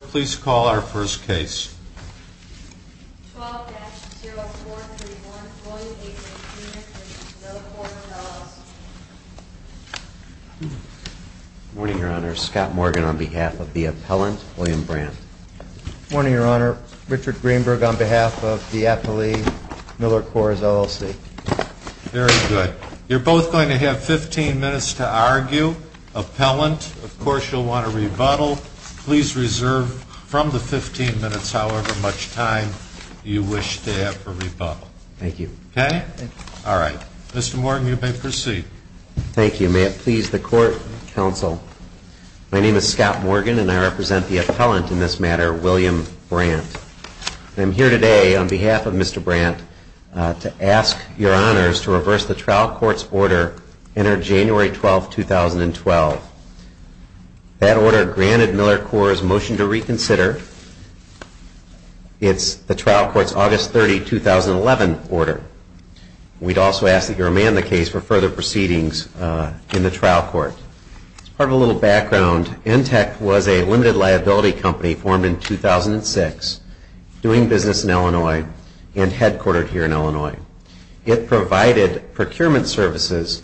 Please call our first case. 12-0431 William Brandt v. Millercoors, LLC Good morning, Your Honor. Scott Morgan on behalf of the appellant, William Brandt. Good morning, Your Honor. Richard Greenberg on behalf of the appellee, Millercoors, LLC. Very good. You're both going to have 15 minutes to argue. Appellant, of course you'll want to rebuttal. Please reserve from the 15 minutes however much time you wish to have for rebuttal. Thank you. Okay? All right. Mr. Morgan, you may proceed. Thank you. May it please the Court, Counsel. My name is Scott Morgan and I represent the appellant in this matter, William Brandt. I'm here today on behalf of Mr. Brandt to ask Your Honors to reverse the trial court's order entered January 12, 2012. That order granted Millercoors' motion to reconsider. It's the trial court's August 30, 2011 order. We'd also ask that you remand the case for further proceedings in the trial court. As part of a little background, ENTEC was a limited liability company formed in 2006 doing business in Illinois and headquartered here in Illinois. It provided procurement services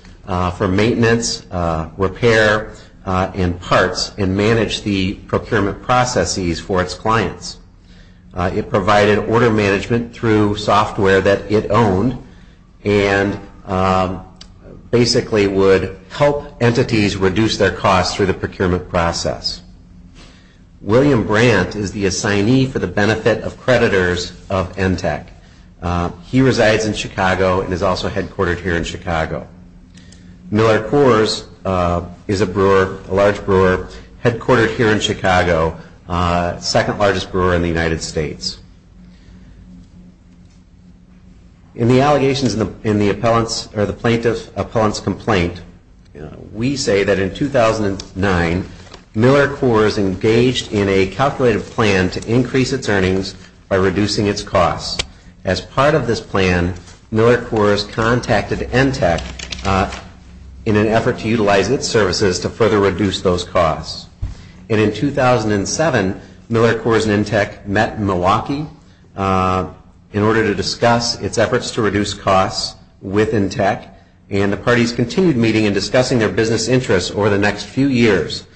for maintenance, repair, and parts and managed the procurement processes for its clients. It provided order management through software that it owned and basically would help entities reduce their costs through the procurement process. William Brandt is the assignee for the benefit of creditors of ENTEC. He resides in Chicago and is also headquartered here in Chicago. Millercoors is a large brewer headquartered here in Chicago, the second largest brewer in the United States. In the allegations in the plaintiff's complaint, we say that in 2009, Millercoors engaged in a calculated plan to increase its earnings by reducing its costs. As part of this plan, Millercoors contacted ENTEC in an effort to utilize its services to further reduce those costs. And in 2007, Millercoors and ENTEC met in Milwaukee in order to discuss its efforts to reduce costs with ENTEC. And the parties continued meeting and discussing their business interests over the next few years.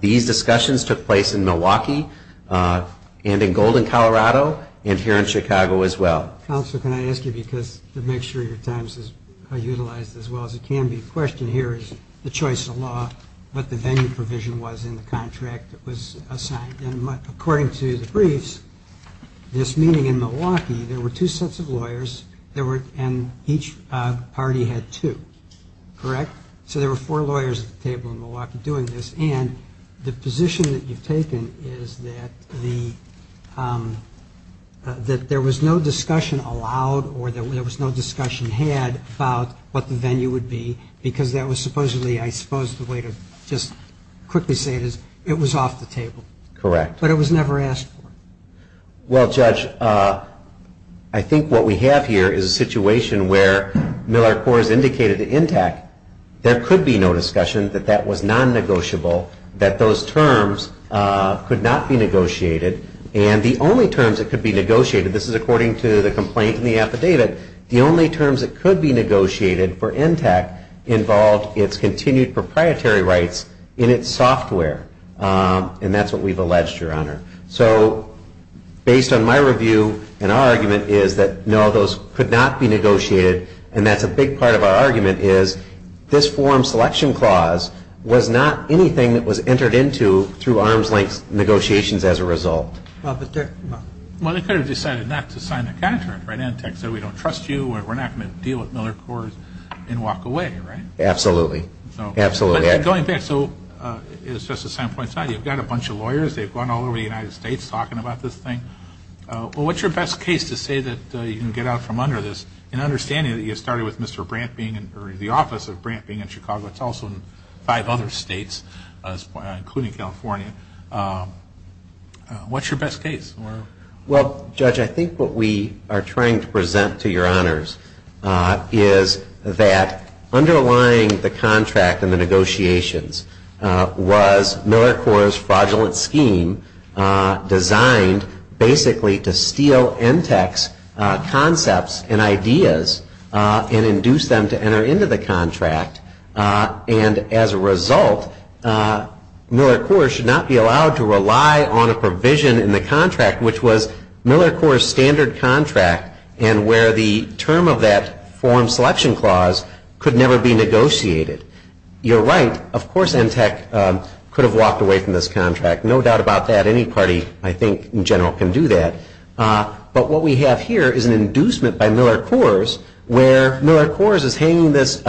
These discussions took place in Milwaukee and in Golden, Colorado and here in Chicago as well. Counsel, can I ask you because to make sure your time is utilized as well as it can be, the question here is the choice of law, what the venue provision was in the contract that was assigned. And according to the briefs, this meeting in Milwaukee, there were two sets of lawyers and each party had two, correct? Correct. So there were four lawyers at the table in Milwaukee doing this. And the position that you've taken is that there was no discussion allowed or there was no discussion had about what the venue would be because that was supposedly, I suppose the way to just quickly say it is it was off the table. Correct. But it was never asked for. Well, Judge, I think what we have here is a situation where Millercoors indicated to ENTEC there could be no discussion that that was non-negotiable, that those terms could not be negotiated, and the only terms that could be negotiated, this is according to the complaint in the affidavit, the only terms that could be negotiated for ENTEC involved its continued proprietary rights in its software. And that's what we've alleged, Your Honor. So based on my review and our argument is that no, those could not be negotiated. And that's a big part of our argument is this form selection clause was not anything that was entered into through arm's length negotiations as a result. Well, they could have decided not to sign the contract, right? ENTEC said we don't trust you or we're not going to deal with Millercoors and walk away, right? Absolutely. Absolutely. Going back, so it's just a standpoint. You've got a bunch of lawyers. They've gone all over the United States talking about this thing. Well, what's your best case to say that you can get out from under this in understanding that you started with Mr. Brant being in the office of Brant being in Chicago. It's also in five other states, including California. What's your best case? Well, Judge, I think what we are trying to present to your honors is that underlying the contract and the negotiations was Millercoors' fraudulent scheme designed basically to steal ENTEC's concepts and ideas and induce them to enter into the contract. And as a result, Millercoors should not be allowed to rely on a provision in the contract which was Millercoors' standard contract and where the term of that form selection clause could never be negotiated. You're right. Of course, ENTEC could have walked away from this contract. No doubt about that. Any party, I think, in general can do that. But what we have here is an inducement by Millercoors where Millercoors is hanging this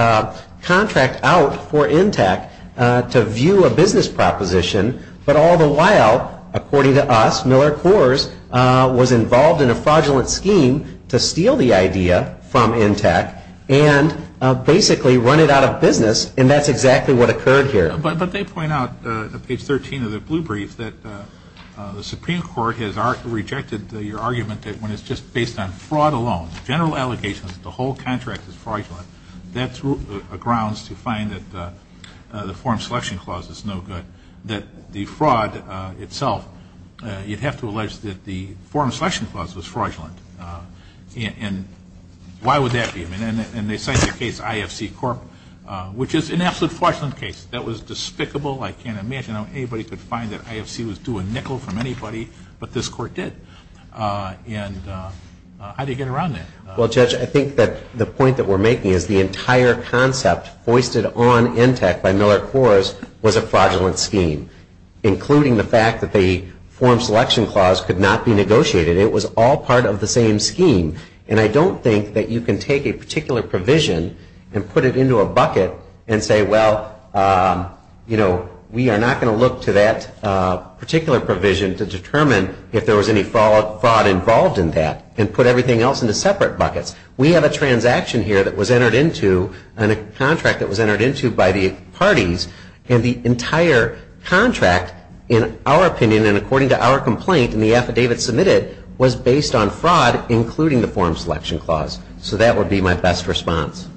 contract out for ENTEC to view a business proposition. But all the while, according to us, Millercoors was involved in a fraudulent scheme to steal the idea from ENTEC and basically run it out of business. And that's exactly what occurred here. But they point out, page 13 of the blue brief, that the Supreme Court has rejected your argument that when it's just based on fraud alone, general allegations that the whole contract is fraudulent, that's grounds to find that the form selection clause is no good, that the fraud itself, you'd have to allege that the form selection clause was fraudulent. And why would that be? And they cite the case IFC Corp., which is an absolute fraudulent case. That was despicable. I can't imagine how anybody could find that IFC was doing nickel from anybody, but this court did. And how do you get around that? Well, Judge, I think that the point that we're making is the entire concept foisted on ENTEC by Millercoors was a fraudulent scheme, including the fact that the form selection clause could not be negotiated. It was all part of the same scheme. And I don't think that you can take a particular provision and put it into a bucket and say, well, you know, we are not going to look to that particular provision to determine if there was any fraud involved in that and put everything else into separate buckets. We have a transaction here that was entered into and a contract that was entered into by the parties, and the entire contract, in our opinion and according to our complaint and the affidavit submitted, was based on fraud, including the form selection clause. So that would be my best response.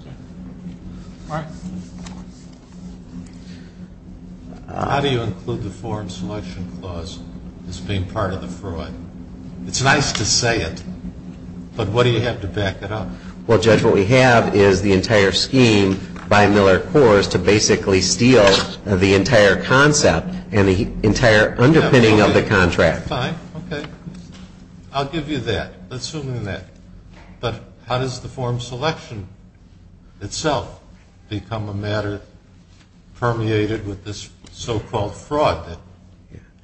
How do you include the form selection clause as being part of the fraud? It's nice to say it, but what do you have to back it up? Well, Judge, what we have is the entire scheme by Millercoors to basically steal the entire concept and the entire underpinning of the contract. Fine. Okay. I'll give you that. Let's assume that. But how does the form selection itself become a matter permeated with this so-called fraud that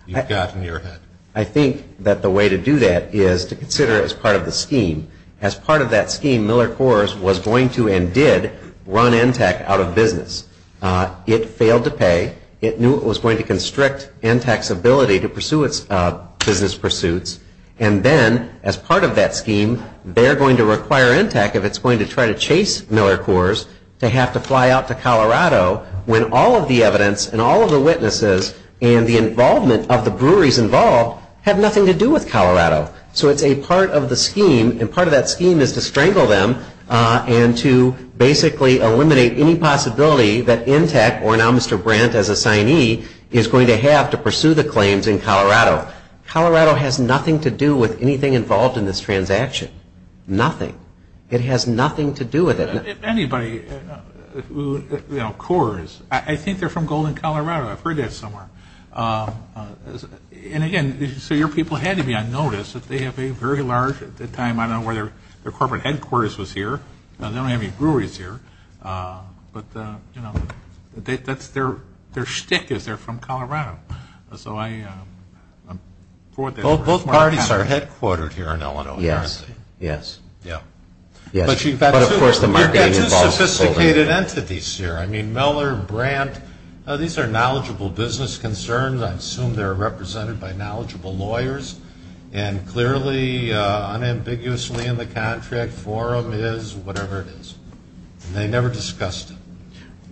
you've got in your head? I think that the way to do that is to consider it as part of the scheme. As part of that scheme, Millercoors was going to and did run NTAC out of business. It failed to pay. It knew it was going to constrict NTAC's ability to pursue its business pursuits. And then, as part of that scheme, they're going to require NTAC, if it's going to try to chase Millercoors, to have to fly out to Colorado when all of the evidence and all of the witnesses and the involvement of the breweries involved have nothing to do with Colorado. So it's a part of the scheme, and part of that scheme is to strangle them and to basically eliminate any possibility that NTAC, or now Mr. Brandt as assignee, is going to have to pursue the claims in Colorado. Colorado has nothing to do with anything involved in this transaction. Nothing. It has nothing to do with it. If anybody, you know, Coors, I think they're from Golden, Colorado. I've heard that somewhere. And, again, so your people had to be on notice that they have a very large, at the time, I don't know where their corporate headquarters was here. They don't have any breweries here. But, you know, that's their shtick is they're from Colorado. So I'm for it. Both parties are headquartered here in Illinois. Yes. Yeah. But, of course, the marketing involves Golden. You've got two sophisticated entities here. I mean, Miller, Brandt, these are knowledgeable business concerns. I assume they're represented by knowledgeable lawyers. And, clearly, unambiguously in the contract, forum is whatever it is. And they never discussed it.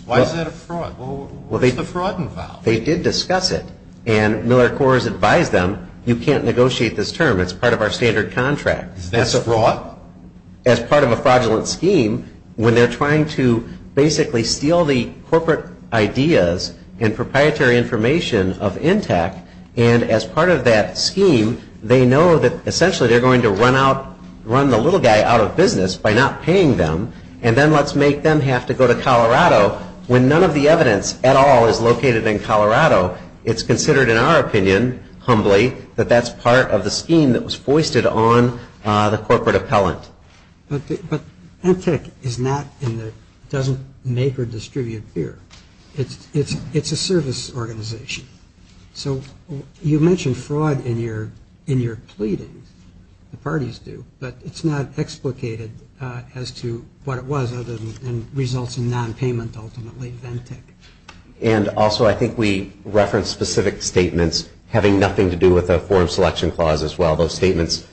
Why is that a fraud? What's the fraud involved? They did discuss it. And Miller Coors advised them, you can't negotiate this term. It's part of our standard contract. Is that a fraud? As part of a fraudulent scheme, when they're trying to basically steal the corporate ideas and proprietary information of ENTTAC, and as part of that scheme, they know that essentially they're going to run the little guy out of business by not paying them. And then let's make them have to go to Colorado when none of the evidence at all is located in Colorado. It's considered, in our opinion, humbly, that that's part of the scheme that was foisted on the corporate appellant. But ENTTAC doesn't make or distribute beer. It's a service organization. So you mentioned fraud in your pleadings. The parties do. But it's not explicated as to what it was other than results in nonpayment ultimately of ENTTAC. And, also, I think we referenced specific statements having nothing to do with the forum selection clause as well. Those statements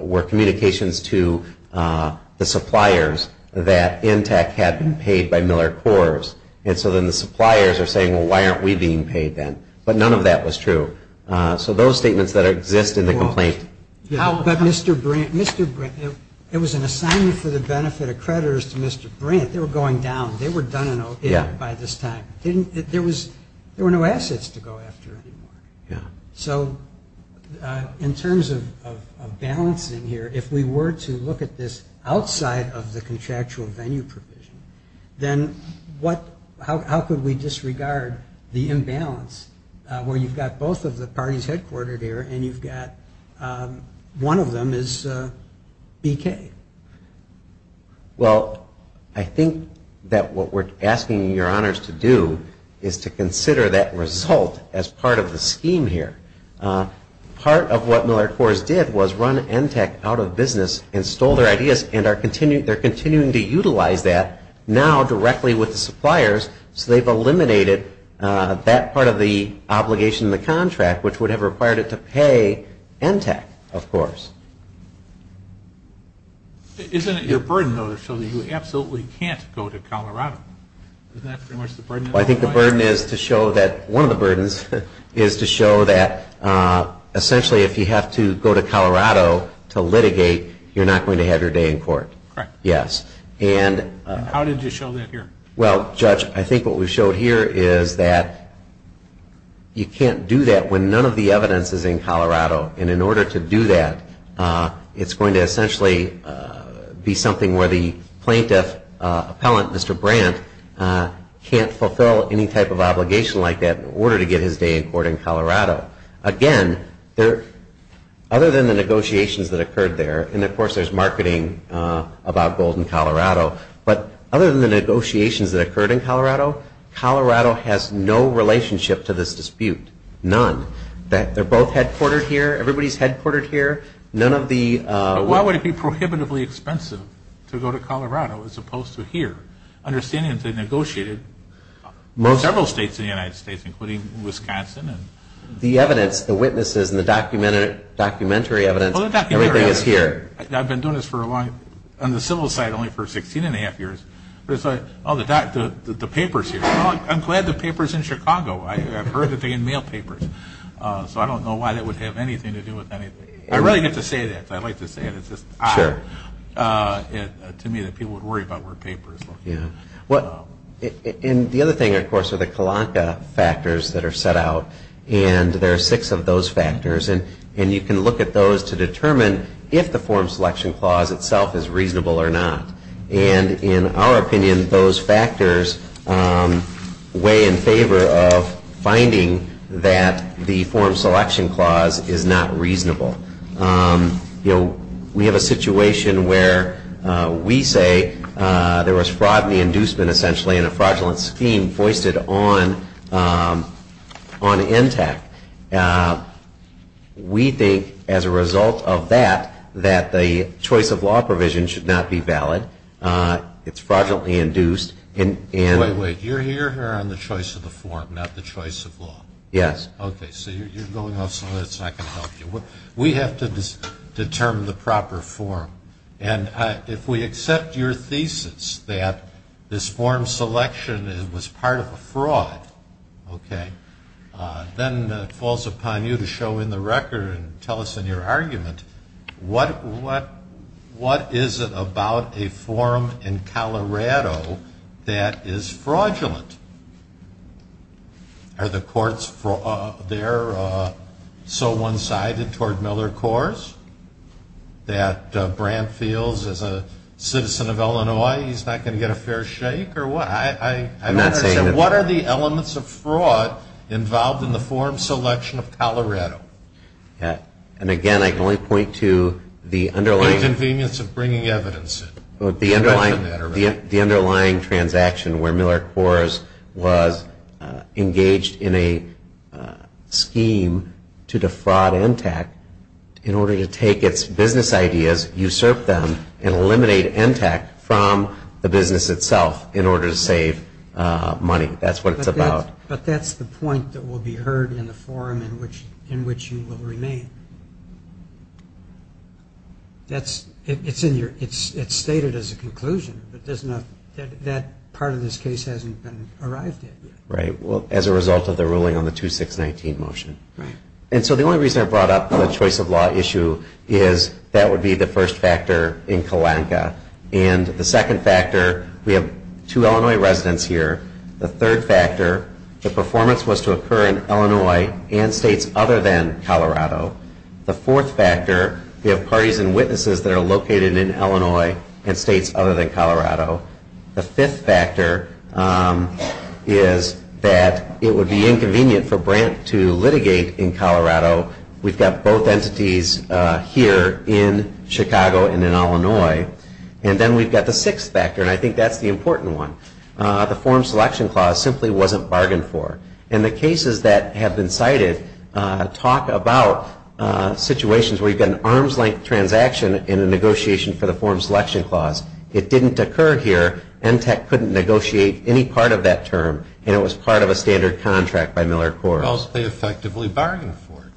were communications to the suppliers that ENTTAC had been paid by Miller Corp. And so then the suppliers are saying, well, why aren't we being paid then? But none of that was true. So those statements that exist in the complaint. But, Mr. Brandt, it was an assignment for the benefit of creditors to Mr. Brandt. They were going down. They were done and okay by this time. There were no assets to go after anymore. Yeah. So in terms of balancing here, if we were to look at this outside of the contractual venue provision, then how could we disregard the imbalance where you've got both of the parties headquartered here and you've got one of them is BK? Well, I think that what we're asking your honors to do is to consider that result as part of the scheme here. Part of what Miller Corp. did was run ENTTAC out of business and stole their ideas and they're continuing to utilize that now directly with the suppliers so they've eliminated that part of the obligation in the contract which would have required it to pay ENTTAC, of course. Isn't it your burden though to show that you absolutely can't go to Colorado? Isn't that pretty much the burden? I think the burden is to show that one of the burdens is to show that essentially if you have to go to Colorado to litigate, you're not going to have your day in court. Correct. Yes. And how did you show that here? Well, Judge, I think what we showed here is that you can't do that when none of the evidence is in Colorado. And in order to do that, it's going to essentially be something where the plaintiff appellant, Mr. Brandt, can't fulfill any type of obligation like that in order to get his day in court in Colorado. Again, other than the negotiations that occurred there, and of course there's marketing about Golden, Colorado, but other than the negotiations that occurred in Colorado, Colorado has no relationship to this dispute. None. They're both headquartered here. Everybody's headquartered here. But why would it be prohibitively expensive to go to Colorado as opposed to here? Understanding that they negotiated in several states in the United States, including Wisconsin. The evidence, the witnesses, and the documentary evidence, everything is here. I've been doing this for a long time. On the civil side, only for 16 1⁄2 years. But it's like, oh, the papers here. I'm glad the paper's in Chicago. I've heard that they had mail papers. So I don't know why that would have anything to do with anything. I really get to say that. I like to say it. It's just odd to me that people would worry about where papers are. And the other thing, of course, are the kalanka factors that are set out. And there are six of those factors. And you can look at those to determine if the Form Selection Clause itself is reasonable or not. And in our opinion, those factors weigh in favor of finding that the Form Selection Clause is not reasonable. You know, we have a situation where we say there was fraud and inducement, essentially, in a fraudulent scheme foisted on NTAC. We think, as a result of that, that the choice of law provision should not be valid. It's fraudulently induced. Wait, wait. You're here on the choice of the form, not the choice of law? Yes. Okay. So you're going off some of that. It's not going to help you. We have to determine the proper form. And if we accept your thesis that this form selection was part of a fraud, okay, then it falls upon you to show in the record and tell us in your argument, what is it about a form in Colorado that is fraudulent? Are the courts there so one-sided toward Miller-Cohrs that Brandt feels, as a citizen of Illinois, he's not going to get a fair shake? Or what? I'm not saying that. What are the elements of fraud involved in the form selection of Colorado? And, again, I can only point to the underlying. The inconvenience of bringing evidence in. The underlying transaction where Miller-Cohrs was engaged in a scheme to defraud ENTAC in order to take its business ideas, usurp them, and eliminate ENTAC from the business itself in order to save money. That's what it's about. But that's the point that will be heard in the forum in which you will remain. It's stated as a conclusion, but that part of this case hasn't been arrived at yet. Right. Well, as a result of the ruling on the 2-6-19 motion. Right. And so the only reason I brought up the choice of law issue is that would be the first factor in Kalanka. And the second factor, we have two Illinois residents here. The third factor, the performance was to occur in Illinois and states other than Colorado. The fourth factor, we have parties and witnesses that are located in Illinois and states other than Colorado. The fifth factor is that it would be inconvenient for Brandt to litigate in Colorado. We've got both entities here in Chicago and in Illinois. And then we've got the sixth factor, and I think that's the important one. The form selection clause simply wasn't bargained for. And the cases that have been cited talk about situations where you've got an arm's length transaction in a negotiation for the form selection clause. It didn't occur here. ENTEC couldn't negotiate any part of that term, and it was part of a standard contract by Miller Corp. Because they effectively bargained for it.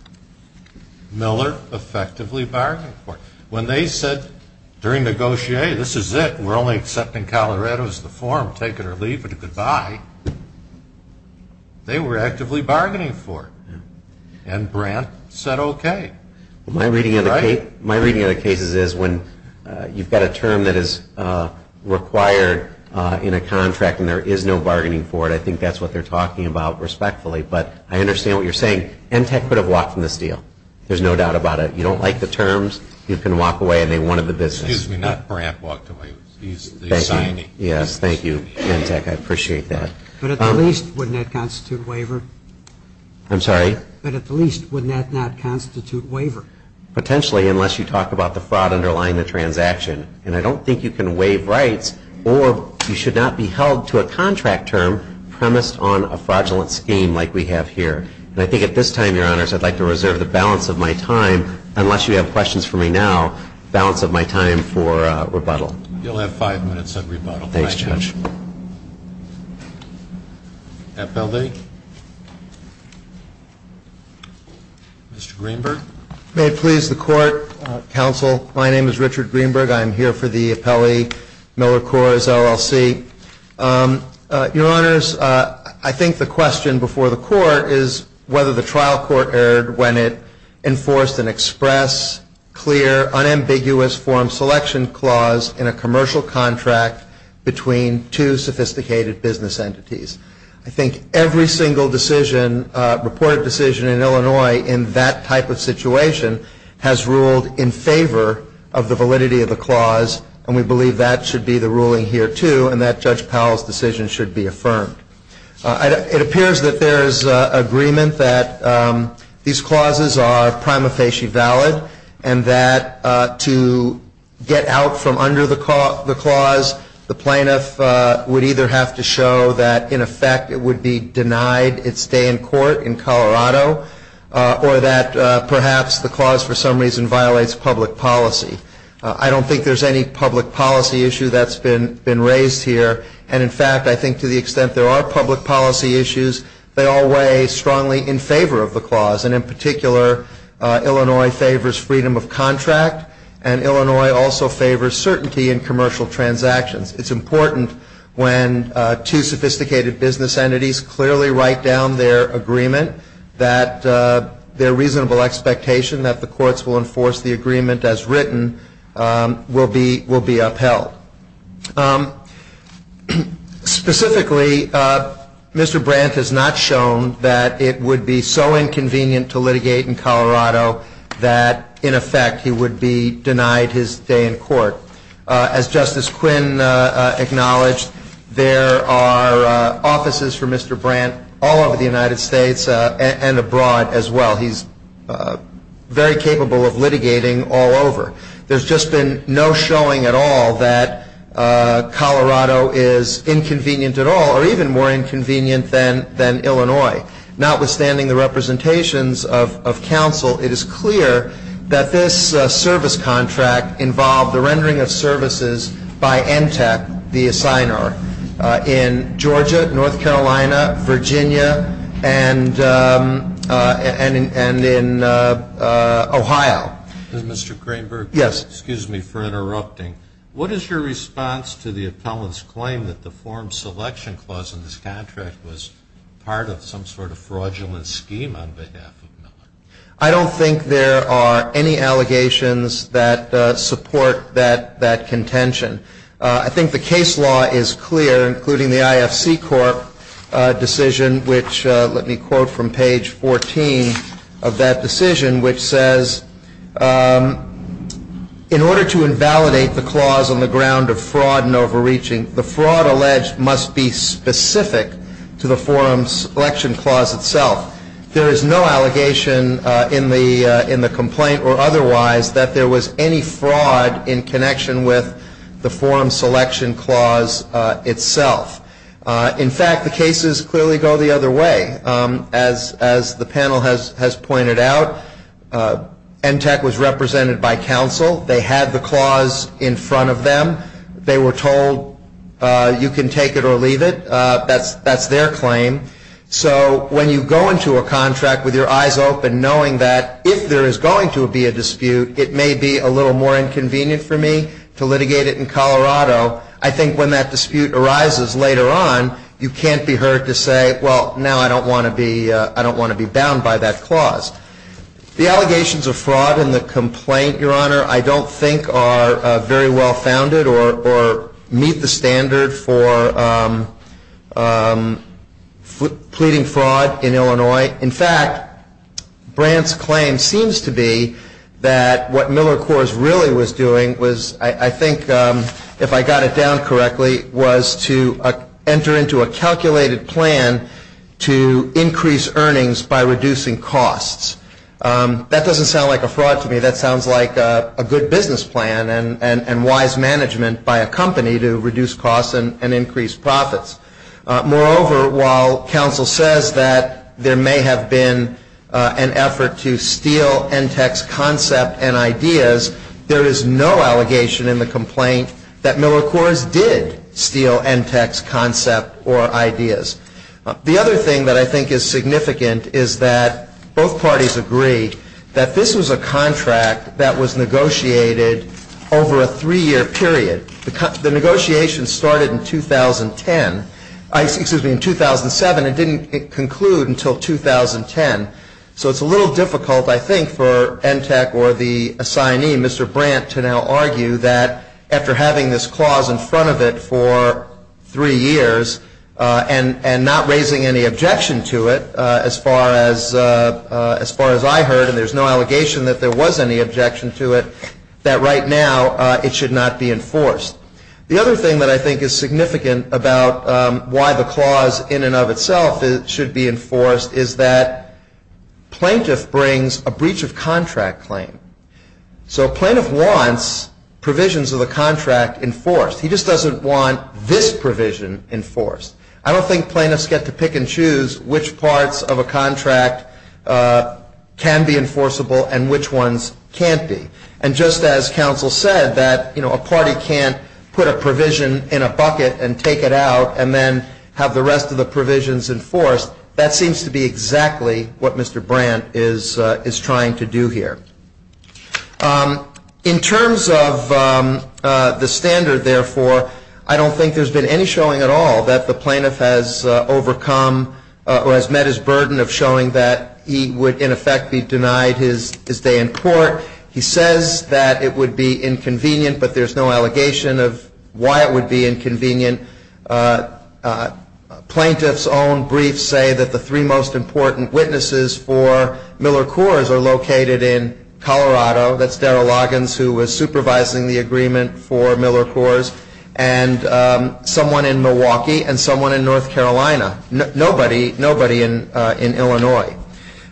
Miller effectively bargained for it. When they said during negotiate, this is it. We're only accepting Colorado as the form. Take it or leave it. Goodbye. They were actively bargaining for it. And Brandt said okay. My reading of the cases is when you've got a term that is required in a contract and there is no bargaining for it, I think that's what they're talking about respectfully. But I understand what you're saying. ENTEC could have walked from this deal. There's no doubt about it. You don't like the terms, you can walk away. And they wanted the business. Excuse me. Not Brandt walked away. He's signing. Yes. Thank you, ENTEC. I appreciate that. But at least wouldn't that constitute waiver? I'm sorry? But at least wouldn't that not constitute waiver? Potentially, unless you talk about the fraud underlying the transaction. And I don't think you can waive rights or you should not be held to a contract term premised on a fraudulent scheme like we have here. And I think at this time, Your Honors, I'd like to reserve the balance of my time, unless you have questions for me now, balance of my time for rebuttal. You'll have five minutes of rebuttal. Thank you. Thanks, Judge. Appellee. Mr. Greenberg. May it please the Court, Counsel, my name is Richard Greenberg. I'm here for the Appellee Miller Cores LLC. Your Honors, I think the question before the Court is whether the trial court erred when it enforced an express, clear, unambiguous form selection clause in a commercial contract between two sophisticated business entities. I think every single decision, reported decision in Illinois in that type of situation has ruled in favor of the validity of the clause, and we believe that should be the ruling here, too, and that Judge Powell's decision should be affirmed. It appears that there is agreement that these clauses are prima facie valid and that to get out from under the clause, the plaintiff would either have to show that, in effect, it would be denied its stay in court in Colorado or that perhaps the clause, for some reason, violates public policy. I don't think there's any public policy issue that's been raised here, and in fact, I think to the extent there are public policy issues, they all weigh strongly in favor of the clause, and in particular, Illinois favors freedom of contract and Illinois also favors certainty in commercial transactions. It's important when two sophisticated business entities clearly write down their agreement, that their reasonable expectation that the courts will enforce the agreement as written will be upheld. Specifically, Mr. Brandt has not shown that it would be so inconvenient to litigate in Colorado that, in effect, he would be denied his stay in court. As Justice Quinn acknowledged, there are offices for Mr. Brandt all over the United States. And abroad as well. He's very capable of litigating all over. There's just been no showing at all that Colorado is inconvenient at all, or even more inconvenient than Illinois. Notwithstanding the representations of counsel, it is clear that this service contract involved the rendering of services by NTAC, the assigner, in Georgia, North Carolina, Virginia, and in Ohio. Mr. Cranberg? Yes. Excuse me for interrupting. What is your response to the appellant's claim that the form selection clause in this contract was part of some sort of fraudulent scheme on behalf of Miller? I don't think there are any allegations that support that contention. I think the case law is clear, including the IFC Corp. decision, which let me quote from page 14 of that decision, which says, in order to invalidate the clause on the ground of fraud and overreaching, the fraud alleged must be specific to the form selection clause itself. There is no allegation in the complaint or otherwise that there was any fraud in connection with the form selection clause itself. In fact, the cases clearly go the other way. As the panel has pointed out, NTAC was represented by counsel. They had the clause in front of them. They were told you can take it or leave it. That's their claim. So when you go into a contract with your eyes open, knowing that if there is going to be a dispute, it may be a little more inconvenient for me to litigate it in Colorado, I think when that dispute arises later on, you can't be heard to say, well, now I don't want to be bound by that clause. The allegations of fraud in the complaint, Your Honor, I don't think are very well founded or meet the standard for pleading fraud in Illinois. In fact, Brandt's claim seems to be that what Miller Coors really was doing was, I think, if I got it down correctly, was to enter into a calculated plan to increase earnings by reducing costs. That doesn't sound like a fraud to me. That sounds like a good business plan and wise management by a company to reduce costs and increase profits. Moreover, while counsel says that there may have been an effort to steal ENTEC's concept and ideas, there is no allegation in the complaint that Miller Coors did steal ENTEC's concept or ideas. The other thing that I think is significant is that both parties agree that this was a contract that was negotiated over a three-year period. The negotiation started in 2010. Excuse me, in 2007. It didn't conclude until 2010. So it's a little difficult, I think, for ENTEC or the assignee, Mr. Brandt, to now argue that after having this clause in front of it for three years and not raising any objection to it, as far as I heard, and there's no allegation that there was any objection to it, that right now it should not be enforced. The other thing that I think is significant about why the clause in and of itself should be enforced is that plaintiff brings a breach of contract claim. So a plaintiff wants provisions of the contract enforced. He just doesn't want this provision enforced. I don't think plaintiffs get to pick and choose which parts of a contract can be enforceable and which ones can't be. And just as counsel said that a party can't put a provision in a bucket and take it out and then have the rest of the provisions enforced, that seems to be exactly what Mr. Brandt is trying to do here. In terms of the standard, therefore, I don't think there's been any showing at all that the plaintiff has overcome or has met his burden of showing that he would, in effect, be denied his day in court. He says that it would be inconvenient, but there's no allegation of why it would be inconvenient. Plaintiffs' own briefs say that the three most important witnesses for Miller Coors are located in Colorado. That's Darrell Loggins, who was supervising the agreement for Miller Coors, and someone in Milwaukee, and someone in North Carolina. Nobody in Illinois.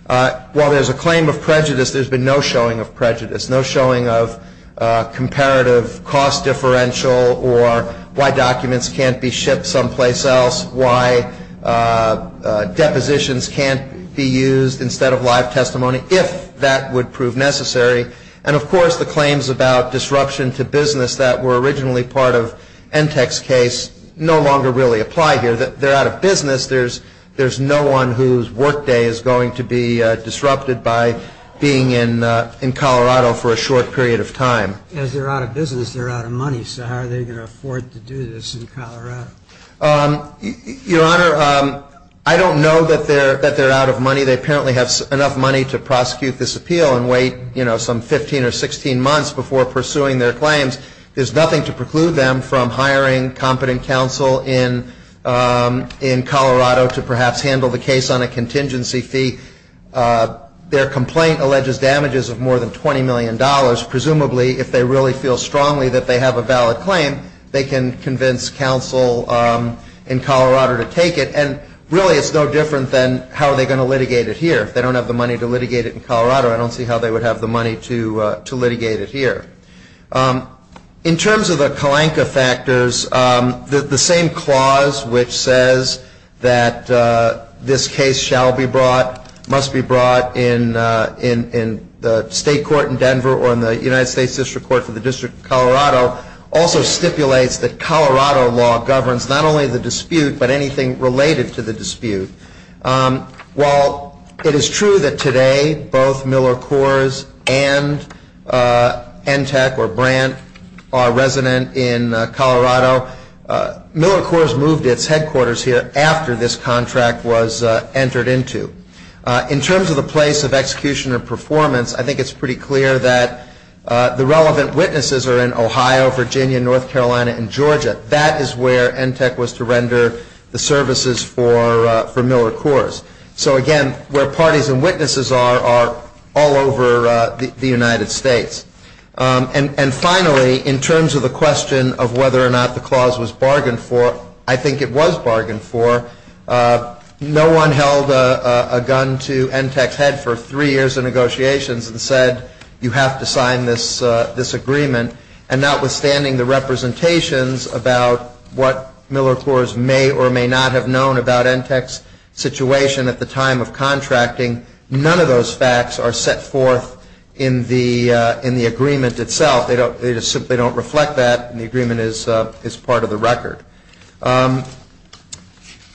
While there's a claim of prejudice, there's been no showing of prejudice, no showing of comparative cost differential or why documents can't be shipped someplace else, why depositions can't be used instead of live testimony, if that would prove necessary. And, of course, the claims about disruption to business that were originally part of Entex's case no longer really apply here. They're out of business. There's no one whose workday is going to be disrupted by being in Colorado for a short period of time. As they're out of business, they're out of money. So how are they going to afford to do this in Colorado? Your Honor, I don't know that they're out of money. They apparently have enough money to prosecute this appeal and wait, you know, some 15 or 16 months before pursuing their claims. There's nothing to preclude them from hiring competent counsel in Colorado to perhaps handle the case on a contingency fee. Their complaint alleges damages of more than $20 million. Presumably, if they really feel strongly that they have a valid claim, they can convince counsel in Colorado to take it. And, really, it's no different than how are they going to litigate it here. If they don't have the money to litigate it in Colorado, I don't see how they would have the money to litigate it here. In terms of the Kalanka factors, the same clause which says that this case shall be brought, must be brought in the state court in Denver or in the United States District Court for the District of Colorado, also stipulates that Colorado law governs not only the dispute but anything related to the dispute. While it is true that today both Miller Coors and ENTEC or Brandt are resident in Colorado, Miller Coors moved its headquarters here after this contract was entered into. In terms of the place of execution or performance, I think it's pretty clear that the relevant witnesses are in Ohio, Virginia, North Carolina, and Georgia. That is where ENTEC was to render the services for Miller Coors. So, again, where parties and witnesses are, are all over the United States. And, finally, in terms of the question of whether or not the clause was bargained for, I think it was bargained for. No one held a gun to ENTEC's head for three years of negotiations and said, you have to sign this, this agreement. And notwithstanding the representations about what Miller Coors may or may not have known about ENTEC's situation at the time of contracting, none of those facts are set forth in the, in the agreement itself. They don't, they just simply don't reflect that and the agreement is, is part of the record.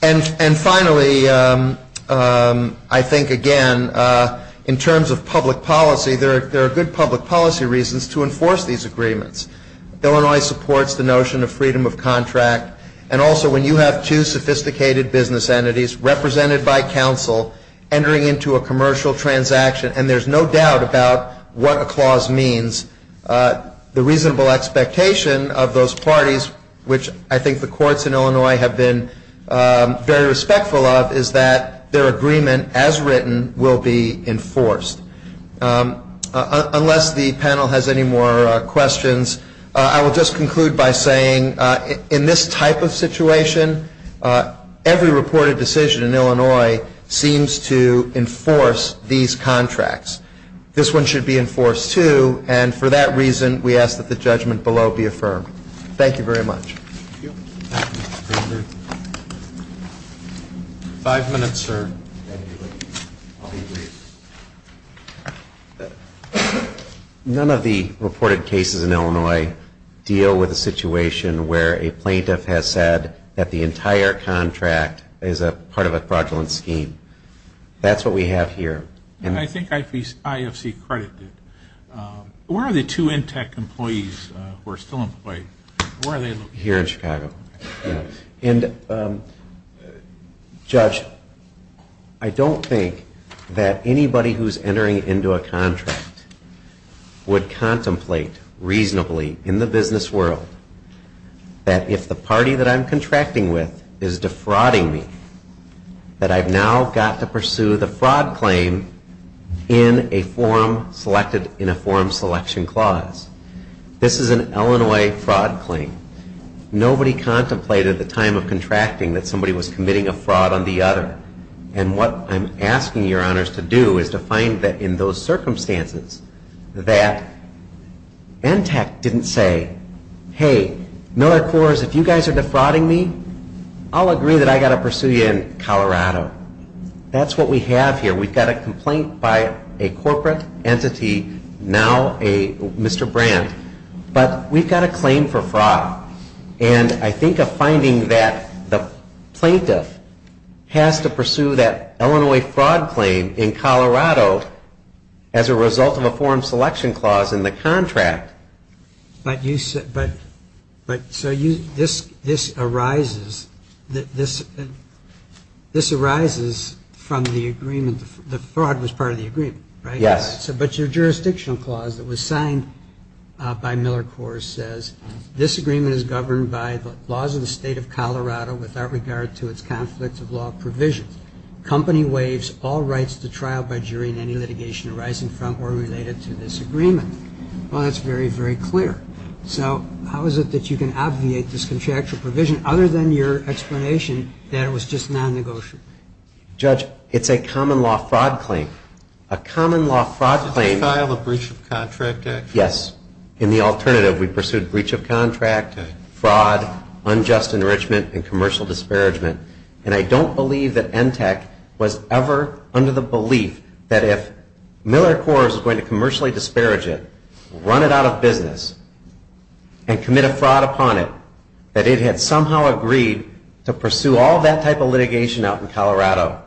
And, and finally, I think, again, in terms of public policy, there are, there are good public policy reasons to enforce these agreements. Illinois supports the notion of freedom of contract, and also when you have two sophisticated business entities represented by counsel entering into a commercial transaction, and there's no doubt about what a clause means, the reasonable expectation of those parties, which I think the courts in Illinois have been very respectful of, is that their agreement, as written, will be enforced. Unless the panel has any more questions, I will just conclude by saying, in this type of situation, every reported decision in Illinois seems to enforce these contracts. This one should be enforced, too, and for that reason, we ask that the judgment below be affirmed. Thank you very much. Thank you. Five minutes, sir. None of the reported cases in Illinois deal with a situation where a plaintiff has said that the entire contract is a part of a fraudulent scheme. That's what we have here. I think IFC credited. Where are the two Intech employees who are still employed? Where are they? Here in Chicago. And, Judge, I don't think that anybody who's entering into a contract would contemplate reasonably, in the business world, that if the party that I'm contracting with is defrauding me, that I've now got to pursue the fraud claim in a form selected in a form selection clause. This is an Illinois fraud claim. Nobody contemplated the time of contracting that somebody was committing a fraud on the other. And what I'm asking your honors to do is to find that, in those circumstances, that Intech didn't say, hey, Miller Coors, if you guys are defrauding me, I'll agree that I've got to pursue you in Colorado. That's what we have here. We've got a complaint by a corporate entity, now a Mr. Brandt. But we've got a claim for fraud. And I think a finding that the plaintiff has to pursue that Illinois fraud claim in Colorado as a result of a form selection clause in the contract. But so this arises from the agreement, the fraud was part of the agreement, right? Yes. But your jurisdictional clause that was signed by Miller Coors says, this agreement is governed by the laws of the state of Colorado without regard to its conflict of law provisions. Company waives all rights to trial by jury in any litigation arising from or related to this agreement. Well, that's very, very clear. So how is it that you can obviate this contractual provision other than your explanation that it was just non-negotiable? Judge, it's a common law fraud claim. A common law fraud claim. Did you file a breach of contract action? Yes. In the alternative, we pursued breach of contract, fraud, unjust enrichment, and commercial disparagement. And I don't believe that Intech was ever under the belief that if Miller Coors was going to commercially disparage it, run it out of business, and commit a fraud upon it, that it had somehow agreed to pursue all that type of litigation out in Colorado.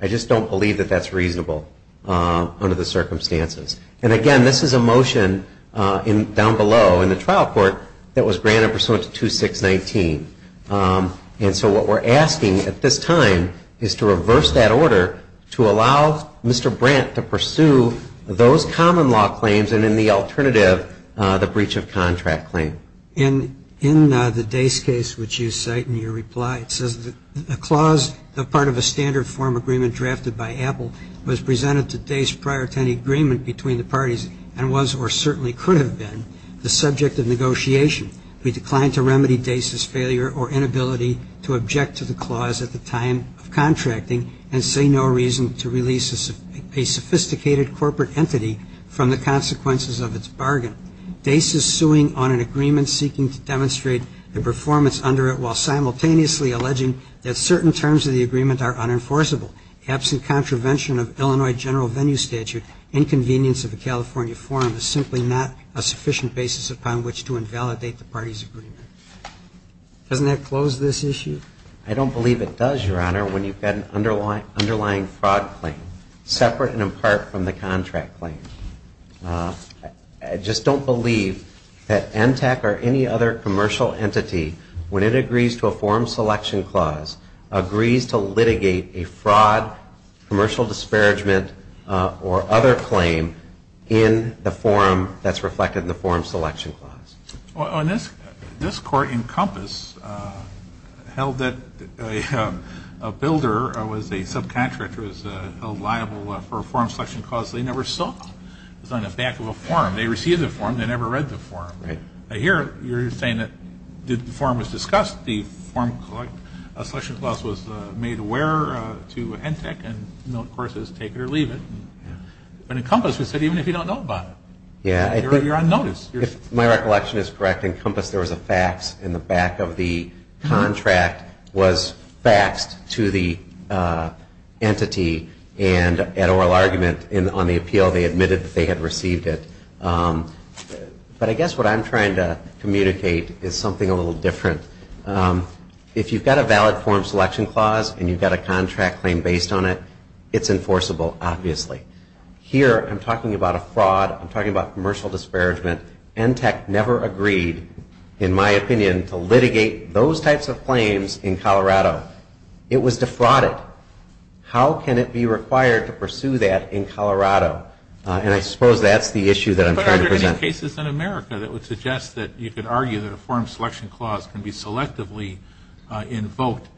I just don't believe that that's reasonable under the circumstances. And again, this is a motion down below in the trial court that was granted pursuant to 2619. And so what we're asking at this time is to reverse that order to allow Mr. Brandt to pursue those common law claims and in the alternative, the breach of contract claim. In the Dace case, which you cite in your reply, it says that a clause that's part of a standard form agreement drafted by Apple was presented to Dace prior to any agreement between the parties and was or certainly could have been the subject of negotiation. We decline to remedy Dace's failure or inability to object to the clause at the time of contracting and say no reason to release a sophisticated corporate entity from the consequences of its bargain. Dace is suing on an agreement seeking to demonstrate the performance under it while simultaneously alleging that certain terms of the agreement are unenforceable. Absent contravention of Illinois general venue statute, inconvenience of a California forum is simply not a sufficient basis upon which to invalidate the party's agreement. Doesn't that close this issue? I don't believe it does, Your Honor, when you've got an underlying fraud claim separate and in part from the contract claim. I just don't believe that NTAC or any other commercial entity, when it agrees to a forum selection clause, agrees to litigate a fraud, commercial disparagement, or other claim in the forum that's reflected in the forum selection clause. This court in Compass held that a builder or was a subcontractor was held liable for a forum selection clause they never saw. It was on the back of a forum. They received the forum. They never read the forum. Here you're saying that the forum was discussed, the forum selection clause was made aware to NTAC, and of course it was take it or leave it. But in Compass they said even if you don't know about it, you're on notice. If my recollection is correct, in Compass there was a fax in the back of the contract was faxed to the entity and at oral argument on the appeal they admitted that they had received it. But I guess what I'm trying to communicate is something a little different. If you've got a valid forum selection clause and you've got a contract claim based on it, it's enforceable, obviously. Here I'm talking about a fraud. I'm talking about commercial disparagement. NTAC never agreed, in my opinion, to litigate those types of claims in Colorado. It was defrauded. How can it be required to pursue that in Colorado? And I suppose that's the issue that I'm trying to present. But aren't there any cases in America that would suggest that you could argue that a forum selection clause can be selectively invoked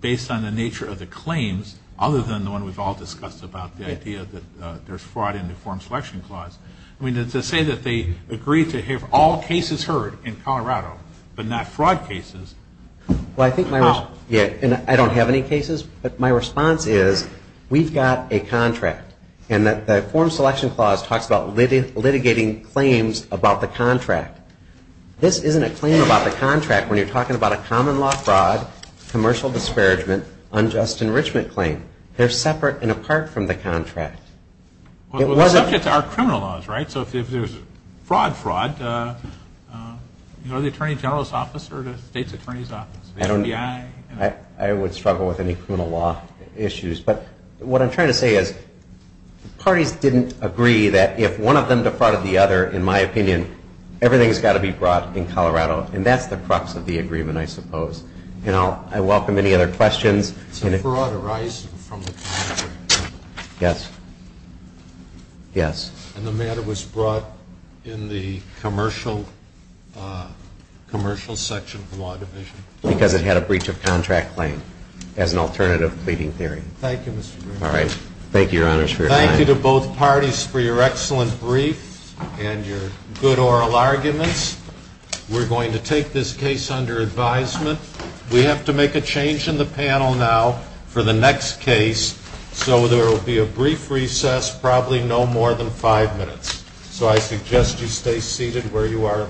based on the nature of the claims, other than the one we've all discussed about the idea that there's fraud in the forum selection clause? I mean, to say that they agreed to have all cases heard in Colorado but not fraud cases, how? Well, I think my response, and I don't have any cases, but my response is we've got a contract and that the forum selection clause talks about litigating claims about the contract. This isn't a claim about the contract when you're talking about a common law fraud, commercial disparagement, unjust enrichment claim. They're separate and apart from the contract. Well, the subjects are criminal laws, right? So if there's fraud, fraud, you know, the attorney general's office or the state's attorney's office, the FBI? I don't know. I would struggle with any criminal law issues. But what I'm trying to say is parties didn't agree that if one of them defrauded the other, in my opinion, everything's got to be brought in Colorado, and that's the crux of the agreement, I suppose. And I welcome any other questions. It's a fraud arising from the contract. Yes. Yes. And the matter was brought in the commercial section of the law division. Because it had a breach of contract claim as an alternative pleading theory. Thank you, Mr. Green. All right. Thank you, Your Honors, for your time. Thank you to both parties for your excellent brief and your good oral arguments. We're going to take this case under advisement. We have to make a change in the panel now for the next case. So there will be a brief recess, probably no more than five minutes. So I suggest you stay seated where you are.